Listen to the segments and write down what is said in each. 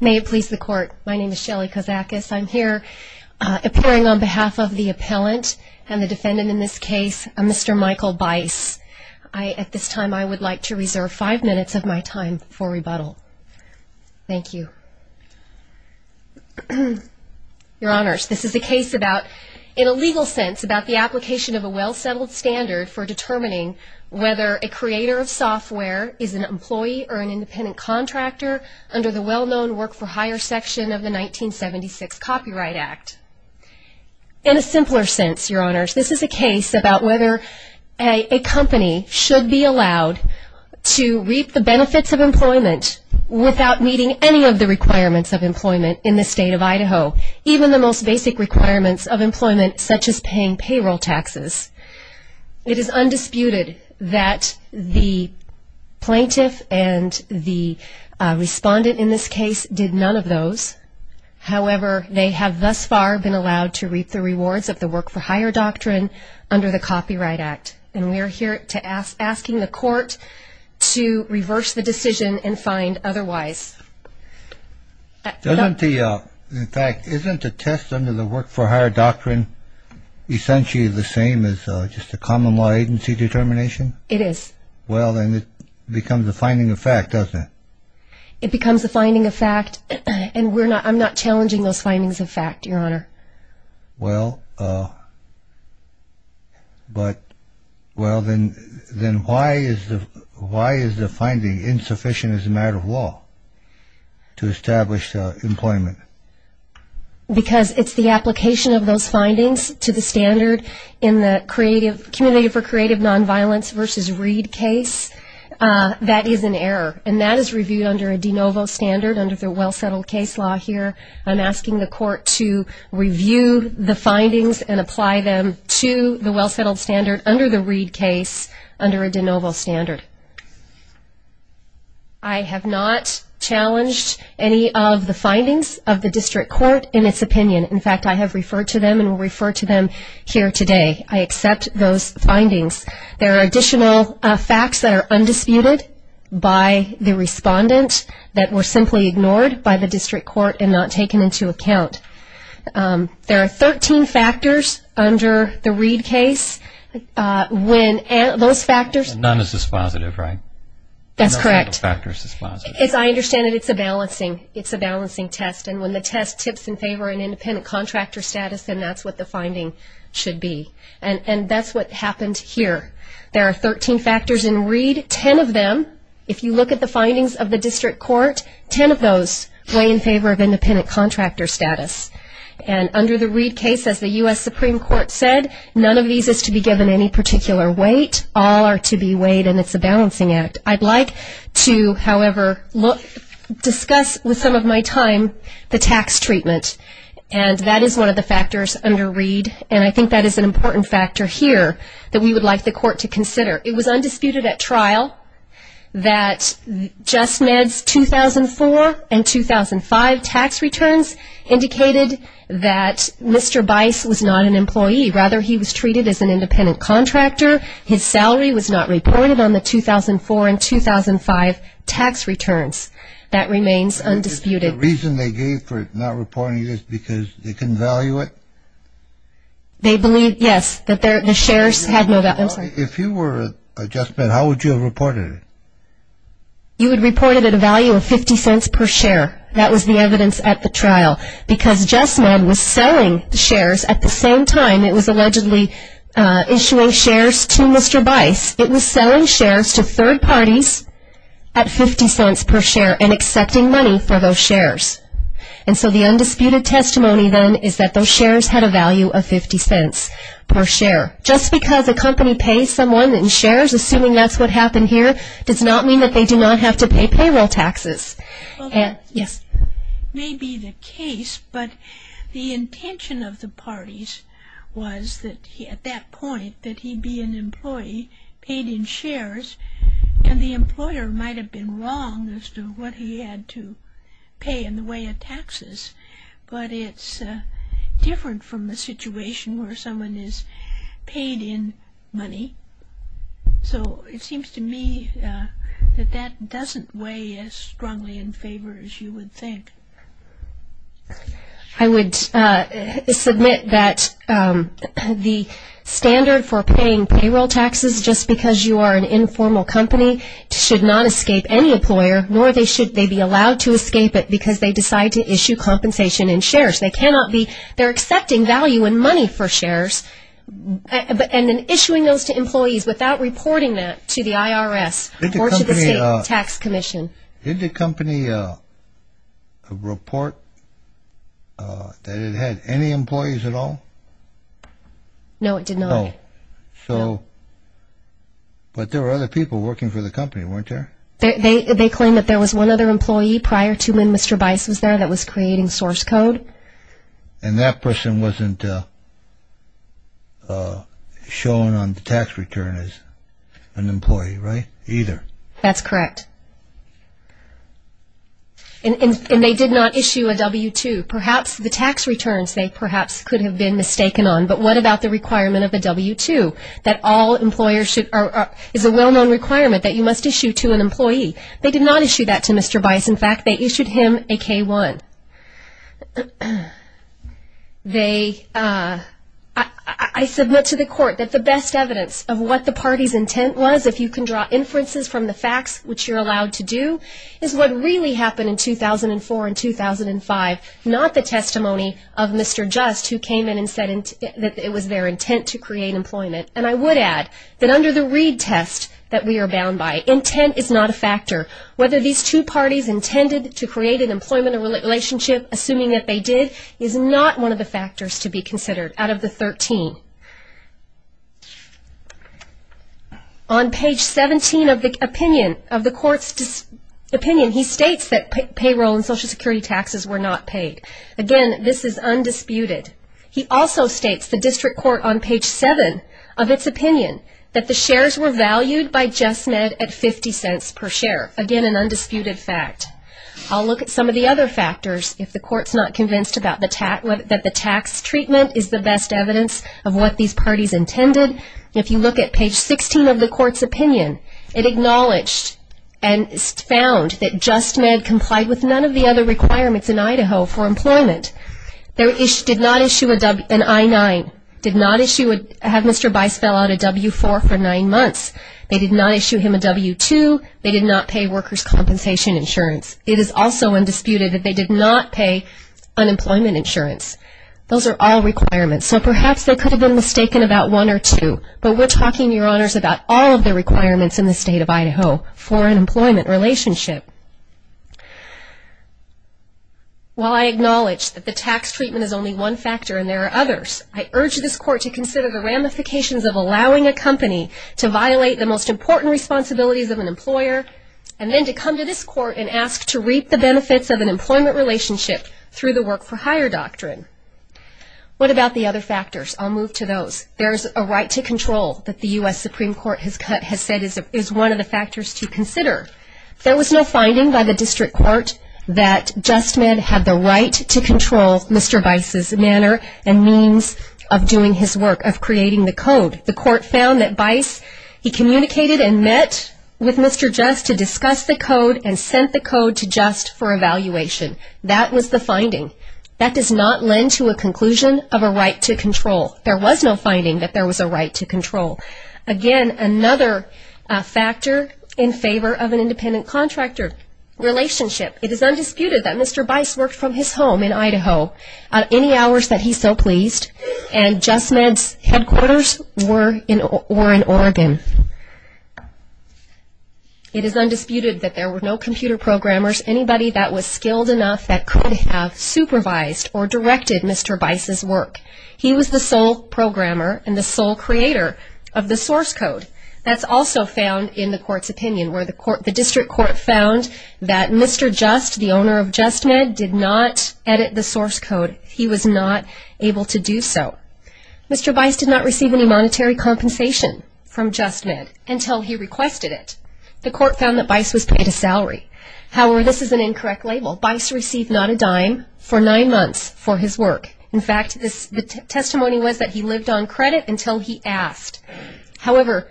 May it please the Court, my name is Shelley Kosakis. I'm here appearing on behalf of the appellant and the defendant in this case, Mr. Michael Byce. At this time, I would like to reserve five minutes of my time for rebuttal. Thank you. Your Honors, this is a case about, in a legal sense, about the application of a well-settled standard for determining whether a creator of software is an employee or an independent contractor under the well-known Work for Hire section of the 1976 Copyright Act. In a simpler sense, Your Honors, this is a case about whether a company should be allowed to reap the benefits of employment without meeting any of the requirements of employment in the State of Idaho, even the most basic requirements of employment, such as paying payroll taxes. It is undisputed that the appellant and the respondent in this case did none of those. However, they have thus far been allowed to reap the rewards of the Work for Hire doctrine under the Copyright Act, and we are here asking the Court to reverse the decision and find otherwise. In fact, isn't a test under the Work for Hire doctrine essentially the same as just a common law agency determination? It is. Well, then it becomes a finding of fact, doesn't it? It becomes a finding of fact, and I'm not challenging those findings of fact, Your Honor. Well, then why is the finding insufficient as a matter of law to establish employment? Because it's the application of those findings to the standard in the Community for Creative Nonviolence v. Reed case. That is an error, and that is reviewed under a de novo standard under the Well-Settled Case Law here. I'm asking the Court to review the findings and apply them to the Well-Settled Standard under the Reed case under a de novo standard. I have not challenged any of the findings of the District Court in its opinion. In fact, I have referred to them and will refer to them and accept those findings. There are additional facts that are undisputed by the respondent that were simply ignored by the District Court and not taken into account. There are 13 factors under the Reed case. None of those factors is positive, right? That's correct. I understand that it's a balancing test, and when the test tips in favor of an independent contractor status, then that's what the that's what happened here. There are 13 factors in Reed. Ten of them, if you look at the findings of the District Court, ten of those weigh in favor of independent contractor status. And under the Reed case, as the U.S. Supreme Court said, none of these is to be given any particular weight. All are to be weighed, and it's a balancing act. I'd like to, however, discuss with some of my time the tax treatment. And that is one of the factors under Reed, and I think that is an important factor here that we would like the Court to consider. It was undisputed at trial that JustMed's 2004 and 2005 tax returns indicated that Mr. Bice was not an employee. Rather, he was treated as an independent contractor. His salary was not reported on the 2004 and 2005 tax returns. That remains undisputed. The reason they gave for not reporting it is because they couldn't value it? They believed, yes, that the shares had no value. If you were a JustMed, how would you have reported it? You would report it at a value of 50 cents per share. That was the evidence at the trial. Because JustMed was selling shares at the same time it was allegedly issuing shares to Mr. Bice. It was selling shares to third parties at 50 cents per share and accepting money for those shares. And so the undisputed testimony then is that those shares had a value of 50 cents per share. Just because a company pays someone in shares, assuming that's what happened here, does not mean that they do not have to pay payroll taxes. Well, that may be the case, but the intention of the parties was that at that point that he be an employee paid in shares and the employer might have been wrong as to what he had to pay in the way of taxes. But it's different from the situation where someone is paid in money. So it seems to me that that doesn't weigh as strongly in favor as you would think. I would submit that the standard for paying payroll taxes, just because you are an informal company, should not be allowed to escape it because they decide to issue compensation in shares. They're accepting value in money for shares and then issuing those to employees without reporting that to the IRS or to the state tax commission. Did the company report that it had any employees at all? No, it did not. But there were other people working for the company, weren't there? They claim that there was one other employee prior to when Mr. Bice was there that was creating source code. And that person wasn't shown on the tax return as an employee, right? Either. That's correct. And they did not issue a W-2. Perhaps the tax returns they perhaps could have been mistaken on, but what about the requirement of a W-2 that all employers should is a well-known requirement that you must issue to an employee. They did not issue that to Mr. Bice. In fact, they issued him a K-1. I submit to the court that the best evidence of what the party's intent was, if you can draw inferences from the facts, which you're allowed to do, is what really happened in 2004 and 2005, not the testimony of Mr. Just, who came in and said that it was their intent to create employment. And I would add that under the Reed test that we are bound by, intent is not a factor. Whether these two parties intended to create an employment relationship, assuming that they did, is not one of the factors to be considered out of the 13. On page 17 of the opinion, of the court's opinion, he states that payroll and Social Security taxes were not paid. Again, this is undisputed. He also states the of its opinion, that the shares were valued by JustMed at 50 cents per share. Again, an undisputed fact. I'll look at some of the other factors, if the court's not convinced that the tax treatment is the best evidence of what these parties intended. If you look at page 16 of the court's opinion, it acknowledged and found that JustMed complied with none of the other requirements in Idaho for employment. They did not issue an I-9. They did not have Mr. Bice fill out a W-4 for nine months. They did not issue him a W-2. They did not pay workers' compensation insurance. It is also undisputed that they did not pay unemployment insurance. Those are all requirements. So perhaps they could have been mistaken about one or two, but we're talking, Your Honors, about all of the requirements in the state of Idaho for an employment relationship. While I acknowledge that the tax treatment is only one factor and there are others, I urge this court to consider the ramifications of allowing a company to violate the most important responsibilities of an employer and then to come to this court and ask to reap the benefits of an employment relationship through the work-for-hire doctrine. What about the other factors? I'll move to those. There's a right to control that the U.S. Supreme Court has said is one of the factors to consider. There was no finding by the district court that JustMed had the right to control Mr. Bice's manner and means of doing his work, of creating the code. The court found that Bice, he communicated and met with Mr. Just to discuss the code and sent the code to Just for evaluation. That was the finding. That does not lend to a conclusion of a right to control. There was no finding that there was a right to control. Again, another factor in favor of an independent contractor relationship. It is undisputed that Mr. Bice worked from his home in Idaho at any hours that he so pleased and JustMed's headquarters were in Oregon. It is undisputed that there were no computer programmers, anybody that was skilled enough that could have supervised or directed Mr. Bice's work. He was the sole programmer and the sole creator of the source code. That's also found in the court's opinion where the district court found that Mr. Just, the owner of JustMed, did not edit the source code. He was not able to do so. Mr. Bice did not receive any monetary compensation from JustMed until he requested it. The court found that Bice was paid a salary. However, this is an incorrect label. Bice received not a dime for nine months for his work. In fact, the testimony was that he lived on credit until he asked. However,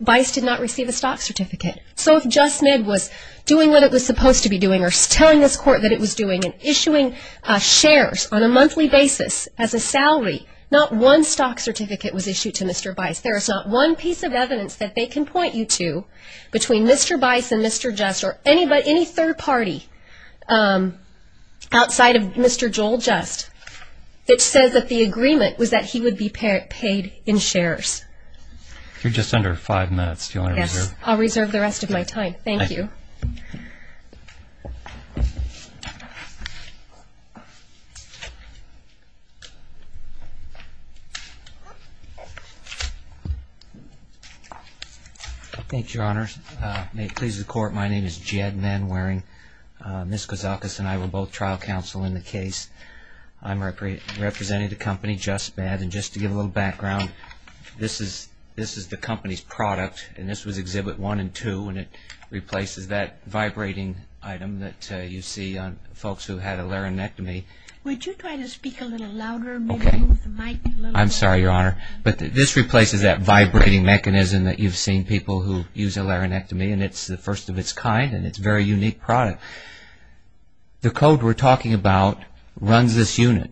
Bice did not receive a stock certificate. So if JustMed was doing what it was supposed to be doing or telling this court that it was doing and issuing shares on a monthly basis as a salary, not one stock certificate was issued to Mr. Bice. There is not one piece of evidence that they can point you to between Mr. Bice and Mr. Just or any third party outside of Mr. Joel Just that says that the agreement was that he would be paid in shares. If you're just under five minutes, do you want to reserve? Yes, I'll reserve the rest of my time. Thank you. Thank you, Your Honor. May it please the Court, my name is Jed Manwaring. Ms. Kozakis and I were both trial counsel in the case. I'm representing the company JustMed. And just to give a little background, this is the company's product and this was Exhibit 1 and 2 and it replaces that vibrating item that you see on folks who had a larynectomy. Would you try to speak a little louder? I'm sorry, Your Honor. But this replaces that vibrating mechanism that you've seen people who use a larynectomy and it's the first of its kind and it's a very unique product. The code we're talking about runs this unit.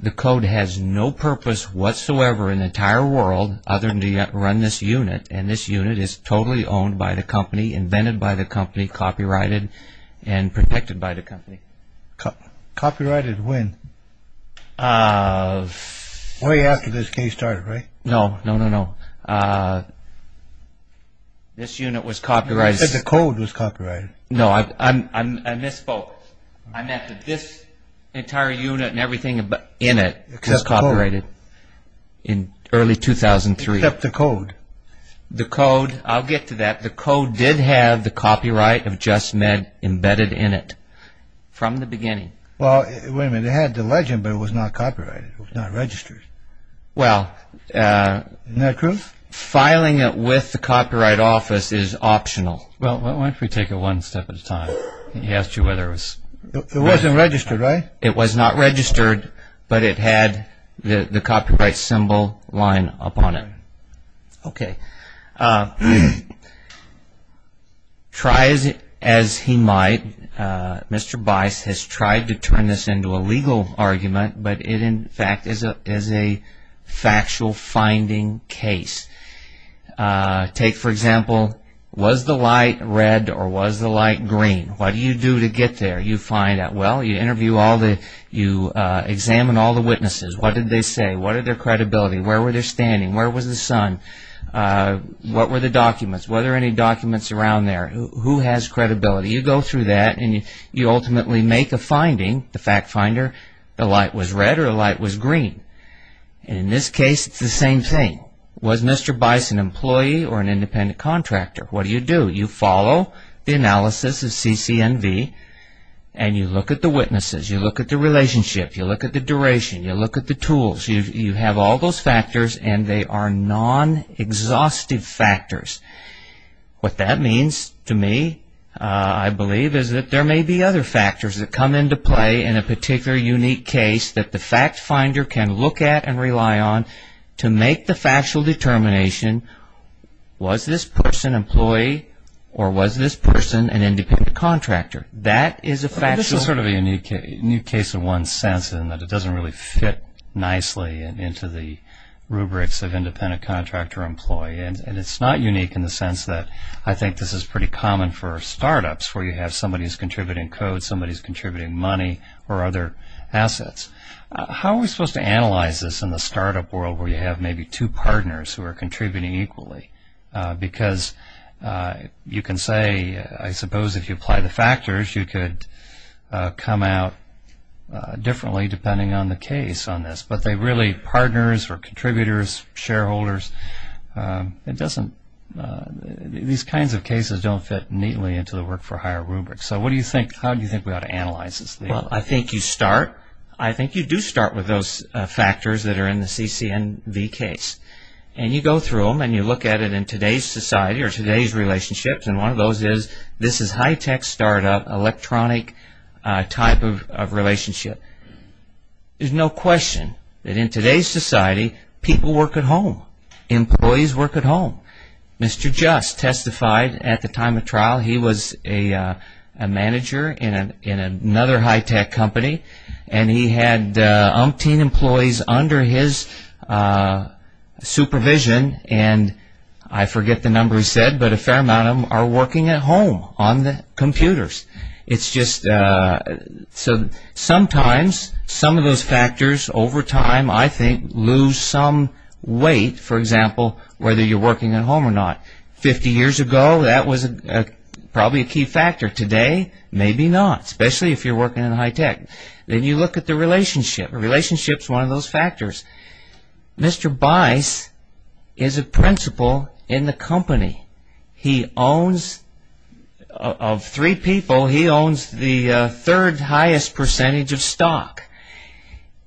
The code has no purpose whatsoever in the entire world other than to run this unit and this unit is totally owned by the company, invented by the company, copyrighted, and protected by the company. Copyrighted when? Way after this case started, right? No, no, no, no. This unit was copyrighted. You said the code was copyrighted. No, I misspoke. I meant that this entire unit and everything in it was copyrighted in early 2003. Except the code. I'll get to that. The code did have the copyright of JustMed embedded in it from the beginning. Well, wait a minute, it had the legend but it was not copyrighted. It was not registered. Isn't that true? Filing it with the Copyright Office is optional. Well, why don't we take it one step at a time? He asked you whether it was It wasn't registered, right? It was not registered, but it had the copyright symbol line up on it. Okay. Try as he might, Mr. Bice has tried to turn this into a legal argument, but it in fact is a factual finding case. Take, for example, was the light red or was the light green? What do you do to get there? You find out. You examine all the witnesses. What did they say? What are their credibility? Where were they standing? Where was the sun? What were the documents? Were there any documents around there? Who has credibility? You go through that and you ultimately make a finding, the fact finder, the light was red or the light was green. In this case, it's the same thing. Was Mr. Bice an employee or an independent contractor? What do you do? You follow the analysis of CCNV and you look at the witnesses. You look at the relationship. You look at the duration. You look at the tools. You have all those factors and they are non-exhaustive factors. What that means to me, I believe, is that there may be other factors that come into play in a particular unique case that the fact finder can look at and rely on to make the factual determination. Was this person an employee or was this person an independent contractor? This is sort of a unique case in one sense in that it doesn't really fit nicely into the rubrics of independent contractor employee. It's not unique in the sense that I think this is pretty common for startups where you have somebody who is contributing code, somebody who is contributing money or other assets. How are we supposed to analyze this in the startup world where you have maybe two partners who are contributing equally because you can say, I suppose if you apply the factors, you could come out differently depending on the case on this, but they really, partners or contributors, shareholders, these kinds of cases don't fit neatly into the work for hire rubric. How do you think we ought to analyze this? I think you start. I think you do start with those ICNV case and you go through them and you look at it in today's society or today's relationships and one of those is this is high-tech startup electronic type of relationship. There's no question that in today's society people work at home. Employees work at home. Mr. Just testified at the time of trial. He was a manager in another high-tech company and he had umpteen employees under his supervision and I forget the number he said, but a fair amount of them are working at home on the computers. It's just sometimes some of those factors over time I think lose some weight, for example, whether you're working at home or not. Fifty years ago, that was probably a key factor. Today, maybe not, especially if you're working in high-tech. Then you look at the relationship. Relationship is one of those factors. Mr. Bice is a principal in the company. He owns, of three people, he owns the third highest percentage of stock.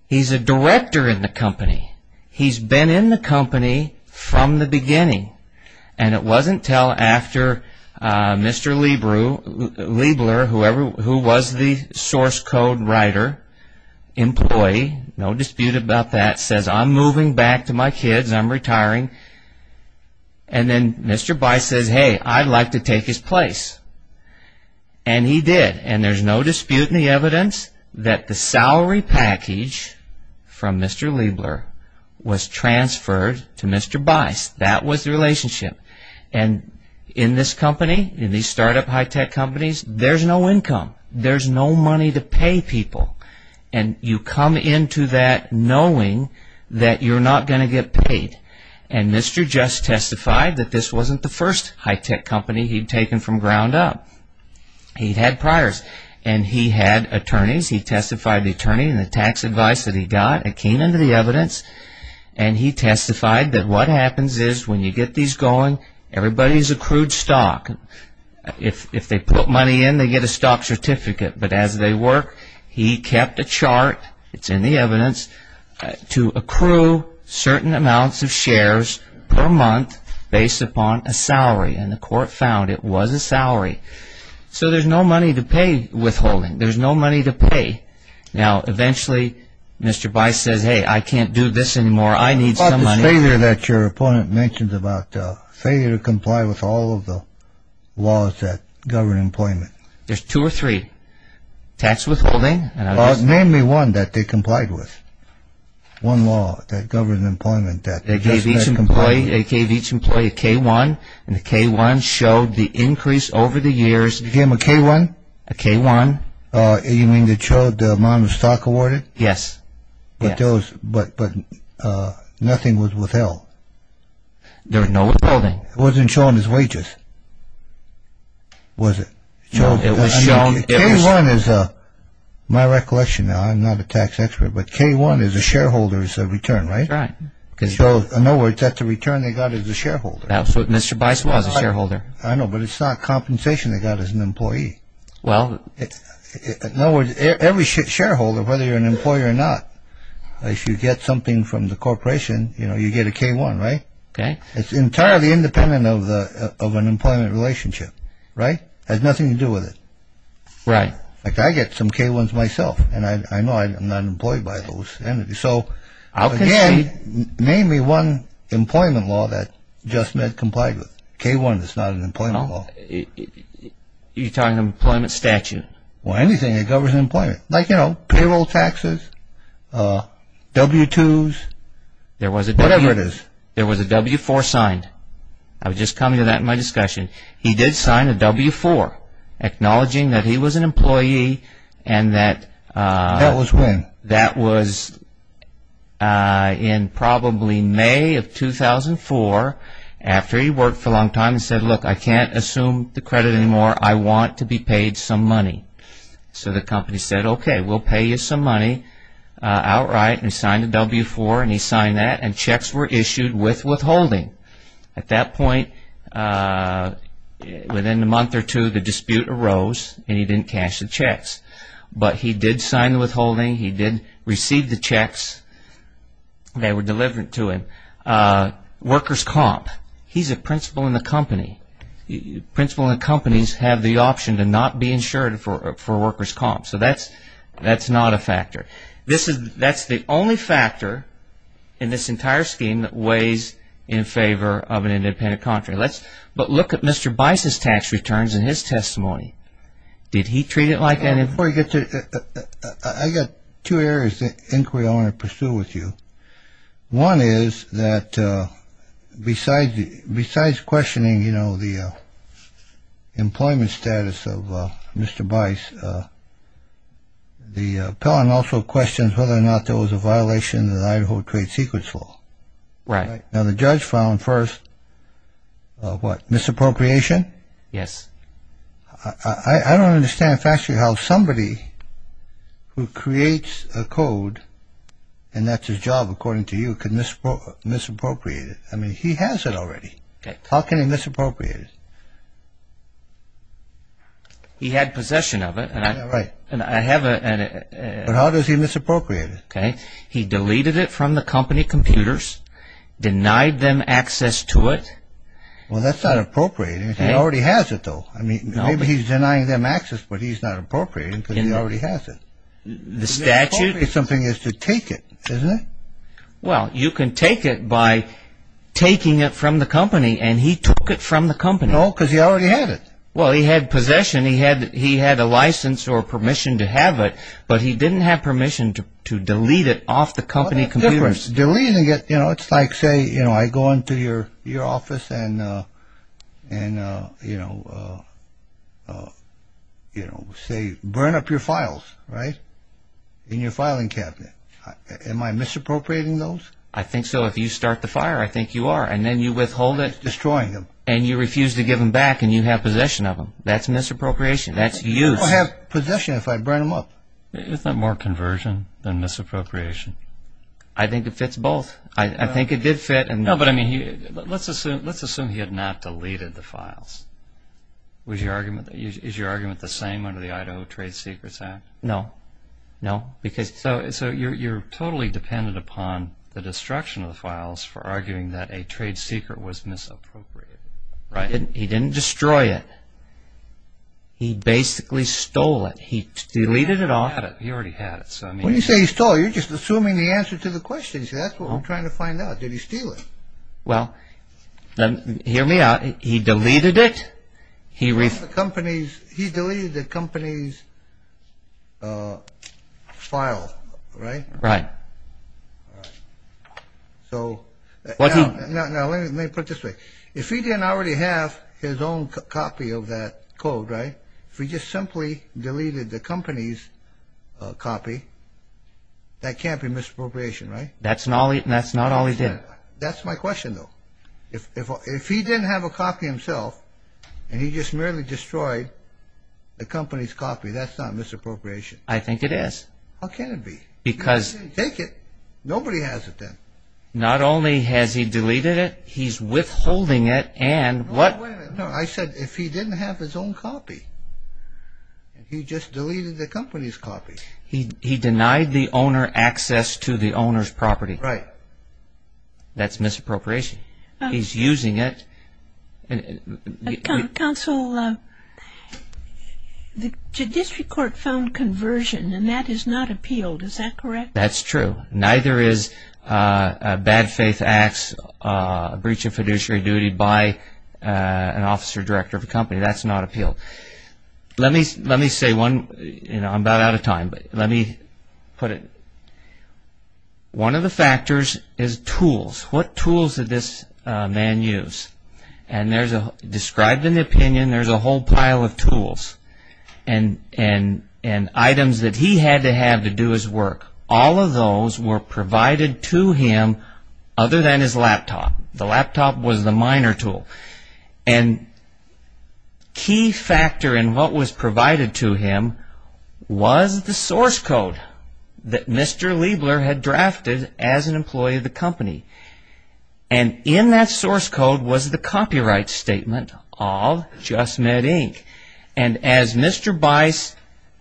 He's a director in the company. He's been in the company from the beginning and it wasn't until after Mr. Liebler, whoever who was the source code writer, employee no dispute about that, says, I'm moving back to my kids, I'm retiring and then Mr. Bice says, hey, I'd like to take his place. And he did. And there's no dispute in the evidence that the salary package from Mr. Liebler was transferred to Mr. Bice. That was the relationship. And in this company, in these startup high-tech companies, there's no income. There's no money to pay people. And you come into that knowing that you're not going to get paid. And Mr. Just testified that this wasn't the first high-tech company he'd taken from ground up. He'd had priors. And he had attorneys. He testified to the attorney and the tax advice that he got. It came into the evidence. And he testified that what happens is, when you get these going, everybody's accrued stock. If they put money in, they get a stock certificate. But as they work, he kept a chart, it's in the evidence, to accrue certain amounts of shares per month based upon a salary. And the court found it was a salary. So there's no money to pay withholding. There's no money to pay. Now, eventually, Mr. Bice says, hey, I can't do this anymore. I need some money. There's a failure that your opponent mentions about failure to comply with all of the laws that govern employment. There's two or three. Tax withholding. Name me one that they complied with. One law that governs employment. They gave each employee a K-1. And the K-1 showed the increase over the years. You gave him a K-1? A K-1. You mean it showed the amount of stock awarded? Yes. But nothing was withheld. There was no withholding. It wasn't shown as wages. Was it? It was shown. My recollection now, I'm not a tax expert, but K-1 is a shareholder's return, right? That's right. In other words, that's the return they got as a shareholder. That's what Mr. Bice was, a shareholder. I know, but it's not compensation they got as an employee. In other words, every shareholder, whether you're an employer or not, if you get something from the corporation, you get a K-1, right? It's entirely independent of an employment relationship. It has nothing to do with it. I get some K-1s myself, and I know I'm not employed by those entities. So again, name me one employment law that JustMed complied with. K-1 is not an employment law. You're talking employment statute? Well, anything that governs employment, like payroll taxes, W-2s, whatever it is. There was a W-4 signed. I was just coming to that in my discussion. He did sign a W-4 acknowledging that he was an employee and that... That was when? That was in probably May of 2004 after he worked for a long time and said, look, I can't assume the credit anymore. I want to be paid some money. So the company said, okay, we'll pay you some money outright. He signed the W-4 and he signed that, and checks were issued with withholding. At that point, within a month or two, the dispute arose and he didn't cash the checks. But he did sign the withholding. He did receive the checks. They were delivered to him. Workers comp. He's a principal in the company. Principals in companies have the option to not be insured for workers comp. So that's not a factor. That's the only factor in this entire scheme that weighs in favor of an independent contractor. But look at Mr. Bice's tax returns in his testimony. Did he treat it like that? I've got two areas of inquiry I want to pursue with you. One is that besides questioning the employment status of Mr. Bice, the appellant also questions whether or not there was a violation of the Idaho trade secrets law. Now the judge found first, what, misappropriation? I don't understand how somebody who creates a code and that's his job, according to you, can misappropriate it. I mean, he has it already. How can he misappropriate it? He had possession of it. But how does he misappropriate it? He deleted it from the company computers. Denied them access to it. Well, that's not appropriate. He already has it, though. Maybe he's denying them access, but he's not appropriating because he already has it. The statute... The appropriate thing is to take it, isn't it? Well, you can take it by taking it from the company and he took it from the company. No, because he already had it. Well, he had possession. He had a license or permission to have it, but he didn't have permission to delete it off the company computers. It's like, say, I go into your office and, you know, burn up your files, right? In your filing cabinet. Am I misappropriating those? I think so. If you start the fire, I think you are. And then you withhold it. It's destroying them. And you refuse to give them back and you have possession of them. That's misappropriation. That's use. I don't have possession if I burn them up. Isn't that more conversion than misappropriation? I think it fits both. I think it did fit. Let's assume he had not deleted the files. Is your argument the same under the Idaho Trade Secrets Act? No. So you're totally dependent upon the destruction of the files for arguing that a trade secret was misappropriated. He didn't destroy it. He basically stole it. He deleted it off. When you say he stole it, you're just assuming the answer to the question. That's what we're trying to find out. Did he steal it? Hear me out. He deleted it. He deleted the company's file, right? Now let me put it this way. If he didn't already have his own copy of that code, right? If he just simply deleted the company's copy, that can't be misappropriation, right? That's not all he did. That's my question, though. If he didn't have a copy himself, and he just merely destroyed the company's copy, that's not misappropriation. I think it is. How can it be? Nobody has it then. Not only has he deleted it, he's withholding it. I said, if he didn't have his own copy. He just deleted the company's copy. He denied the owner access to the owner's property. That's misappropriation. He's using it. Counsel, the judiciary court found conversion, and that is not appealed. Is that correct? That's true. Neither is a bad faith acts breach of fiduciary duty by an officer director of a company. That's not appealed. I'm about out of time, but let me put it. One of the factors is tools. What tools did this man use? Described in the opinion, there's a whole pile of tools, and items that he had to have to do his work. All of those were provided to him other than his laptop. The laptop was the minor tool. Key factor in what was provided to him was the source code that Mr. Liebler had drafted as an employee of the company. In that source code was the copyright statement of Just Med Inc. As Mr. Bice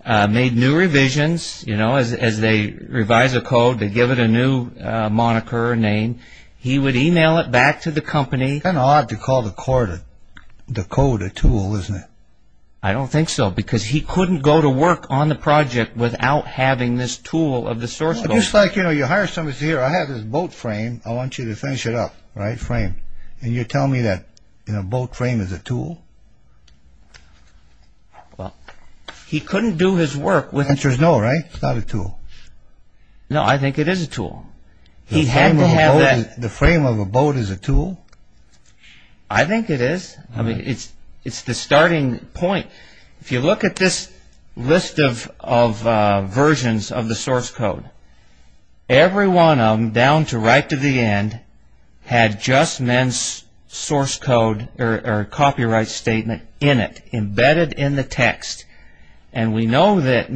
made new revisions, as they revise a moniker or name, he would email it back to the company. It's kind of odd to call the code a tool, isn't it? I don't think so, because he couldn't go to work on the project without having this tool of the source code. Just like you hire somebody to say, I have this boat frame, I want you to finish it up, right? Frame. And you tell me that boat frame is a tool? He couldn't do his work with... The answer is no, right? It's not a tool. No, I think it is a tool. The frame of a boat is a tool? I think it is. It's the starting point. If you look at this list of versions of the source code, every one of them, down to right to the end, had Just Med's source code or copyright statement in it, embedded in the text. And we know that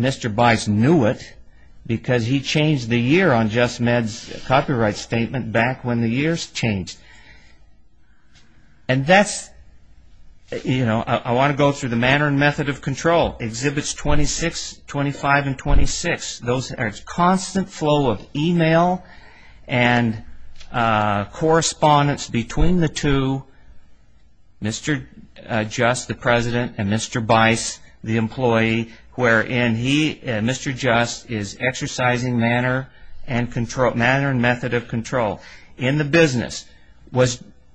because he changed the year on Just Med's copyright statement back when the years changed. I want to go through the manner and method of control. Exhibits 26, 25, and 26. Those are constant flow of email and correspondence between the two, Mr. Just, the president, and Mr. Bice, the employee, wherein he, Mr. Just, is exercising manner and method of control in the business.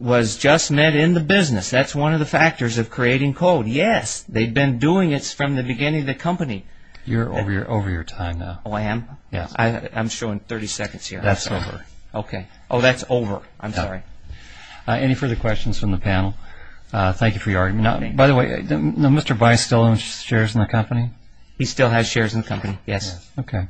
Was Just Med in the business? That's one of the factors of creating code. Yes, they've been doing it from the beginning of the company. You're over your time now. Oh, I am? I'm showing 30 seconds here. That's over. Oh, that's over. I'm sorry. Any further questions from the panel? Thank you for your argument. By the way, Mr. Bice still owns shares in the company? He still has shares in the company. Yes. Okay.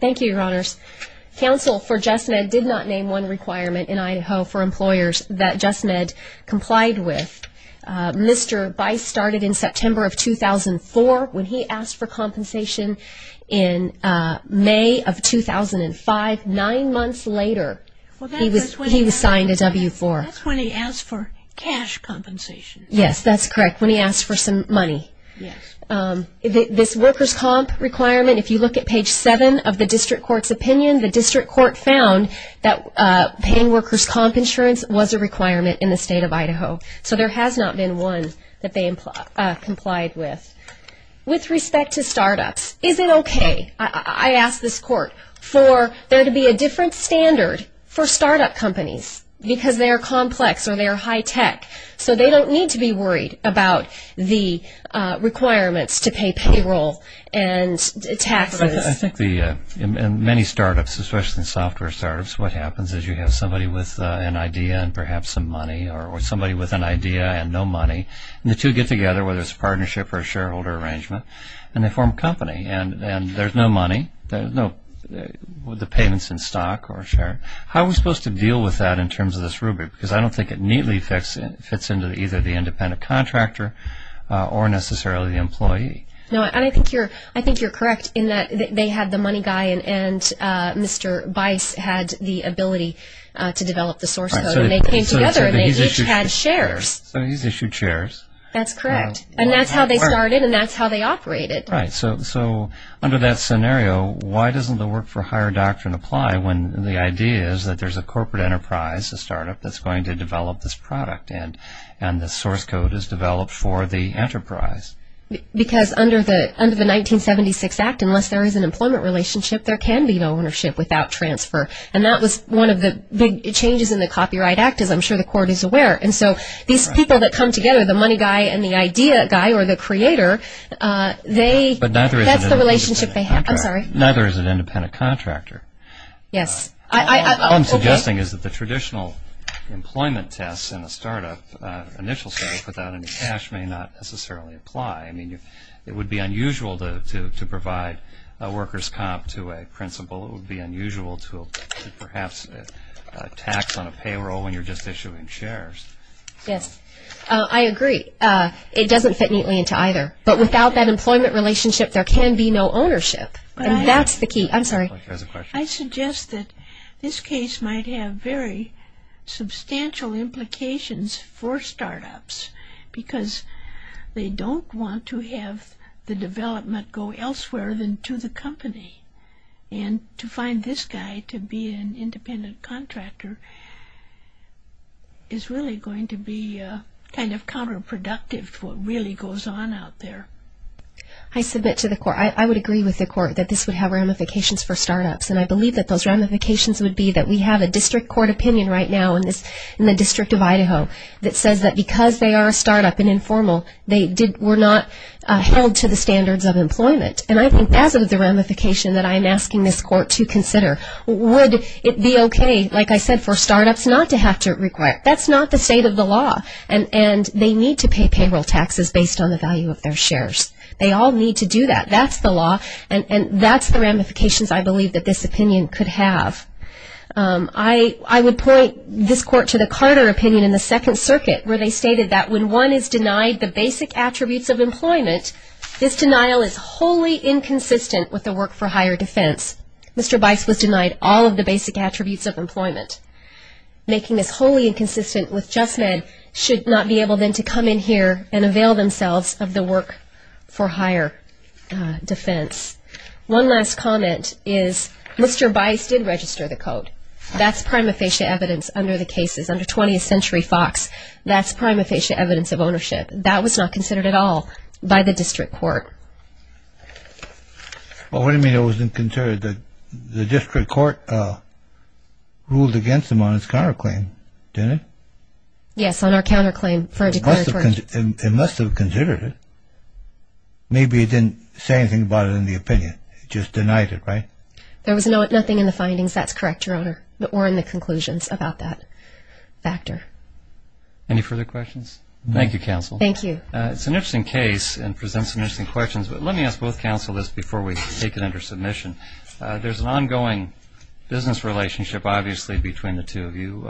Thank you, Your Honors. Council for Just Med did not name one requirement in Idaho for employers that Just Med complied with. Mr. Bice started in September of 2004 when he asked for compensation. In May of 2005, nine months later, he was signed a W-4. That's when he asked for cash compensation. Yes, that's correct, when he asked for some money. This workers' comp requirement, if you look at page 7 of the district court's opinion, the district court found that paying workers' comp insurance was a requirement in the state of Idaho. So there has not been one that they complied with. With respect to I asked this court for there to be a different standard for startup companies because they are complex or they are high-tech. So they don't need to be worried about the requirements to pay payroll and taxes. I think the in many startups, especially in software startups, what happens is you have somebody with an idea and perhaps some money or somebody with an idea and no money and the two get together, whether it's a partnership or a shareholder arrangement, and they have no money, no payments in stock or share. How are we supposed to deal with that in terms of this rubric? Because I don't think it neatly fits into either the independent contractor or necessarily the employee. No, I think you're correct in that they had the money guy and Mr. Bice had the ability to develop the source code and they came together and they each had shares. So he's issued shares. That's correct. And that's how they started and that's how they operated. Right. So under that scenario, why doesn't the work for hire doctrine apply when the idea is that there's a corporate enterprise, a startup that's going to develop this product and the source code is developed for the enterprise? Because under the 1976 Act, unless there is an employment relationship, there can be no ownership without transfer. And that was one of the big changes in the Copyright Act, as I'm sure the court is aware. And so these people that come together, the money guy and the idea guy or the creator, that's the relationship they have. Neither is an independent contractor. Yes. All I'm suggesting is that the traditional employment tests in a startup initial sales without any cash may not necessarily apply. It would be unusual to provide a worker's comp to a principal. It would be unusual to perhaps tax on a payroll when you're just issuing shares. Yes. I agree. It doesn't fit neatly into either. But without that employment relationship, there can be no ownership. And that's the key. I'm sorry. I suggest that this case might have very substantial implications for startups because they don't want to have the development go elsewhere than to the company. And to find this guy to be an independent contractor is really going to be kind of counterproductive to what really goes on out there. I submit to the court, I would agree with the court, that this would have ramifications for startups. And I believe that those ramifications would be that we have a district court opinion right now in the District of Idaho that says that because they are a startup and informal they were not held to the standards of employment. And I think as of the ramification that I'm asking this court to consider, would it be okay, like I said, for startups not to have to require that's not the state of the law. And they need to pay payroll taxes based on the value of their shares. They all need to do that. That's the law. And that's the ramifications I believe that this opinion could have. I would point this court to the Carter opinion in the Second Circuit where they stated that when one is denied the basic attributes of employment this denial is wholly inconsistent with the work for higher defense. Mr. Bice was denied all of the basic attributes of employment. Making this wholly inconsistent with JustMed should not be able then to come in here and avail themselves of the work for higher defense. One last comment is Mr. Bice did register the code. That's prima facie evidence under the cases under 20th Century Fox. That's prima facie evidence of ownership. That was not considered at all by the district court. Well, what do you mean it wasn't considered? The district court ruled against him on his counterclaim, didn't it? Yes, on our counterclaim for our declaratory. It must have considered it. Maybe it didn't say anything about it in the opinion. It just denied it, right? There was nothing in the findings. That's correct, Your Honor, or in the conclusions about that factor. Any further questions? Thank you, Counsel. Thank you. It's an interesting case and presents some interesting questions, but let me ask both counsel this before we take it under submission. There's an ongoing business relationship, obviously, between the two of you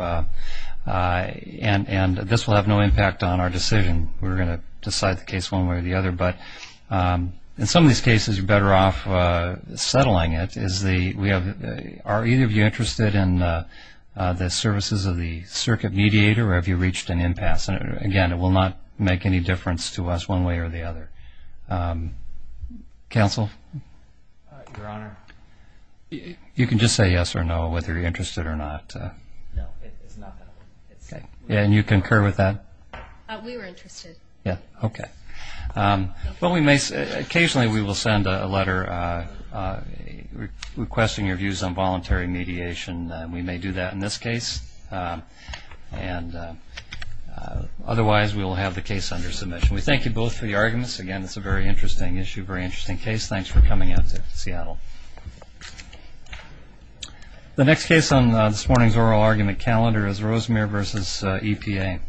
and this will have no impact on our decision. We're going to decide the case one way or the other, but in some of these cases you're better off settling it. Are either of you interested in the services of the circuit mediator or have you reached an impasse? Again, it will not make any difference to us one way or the other. Counsel? Your Honor? You can just say yes or no, whether you're interested or not. And you concur with that? We were interested. Okay. Occasionally we will send a letter requesting your views on voluntary mediation. We may do that in this case. Otherwise, we will have the case under submission. We thank you both for your arguments. Again, it's a very interesting issue, very interesting case. Thanks for coming out to Seattle. The next case on this morning's oral argument calendar is Rosemere v. EPA.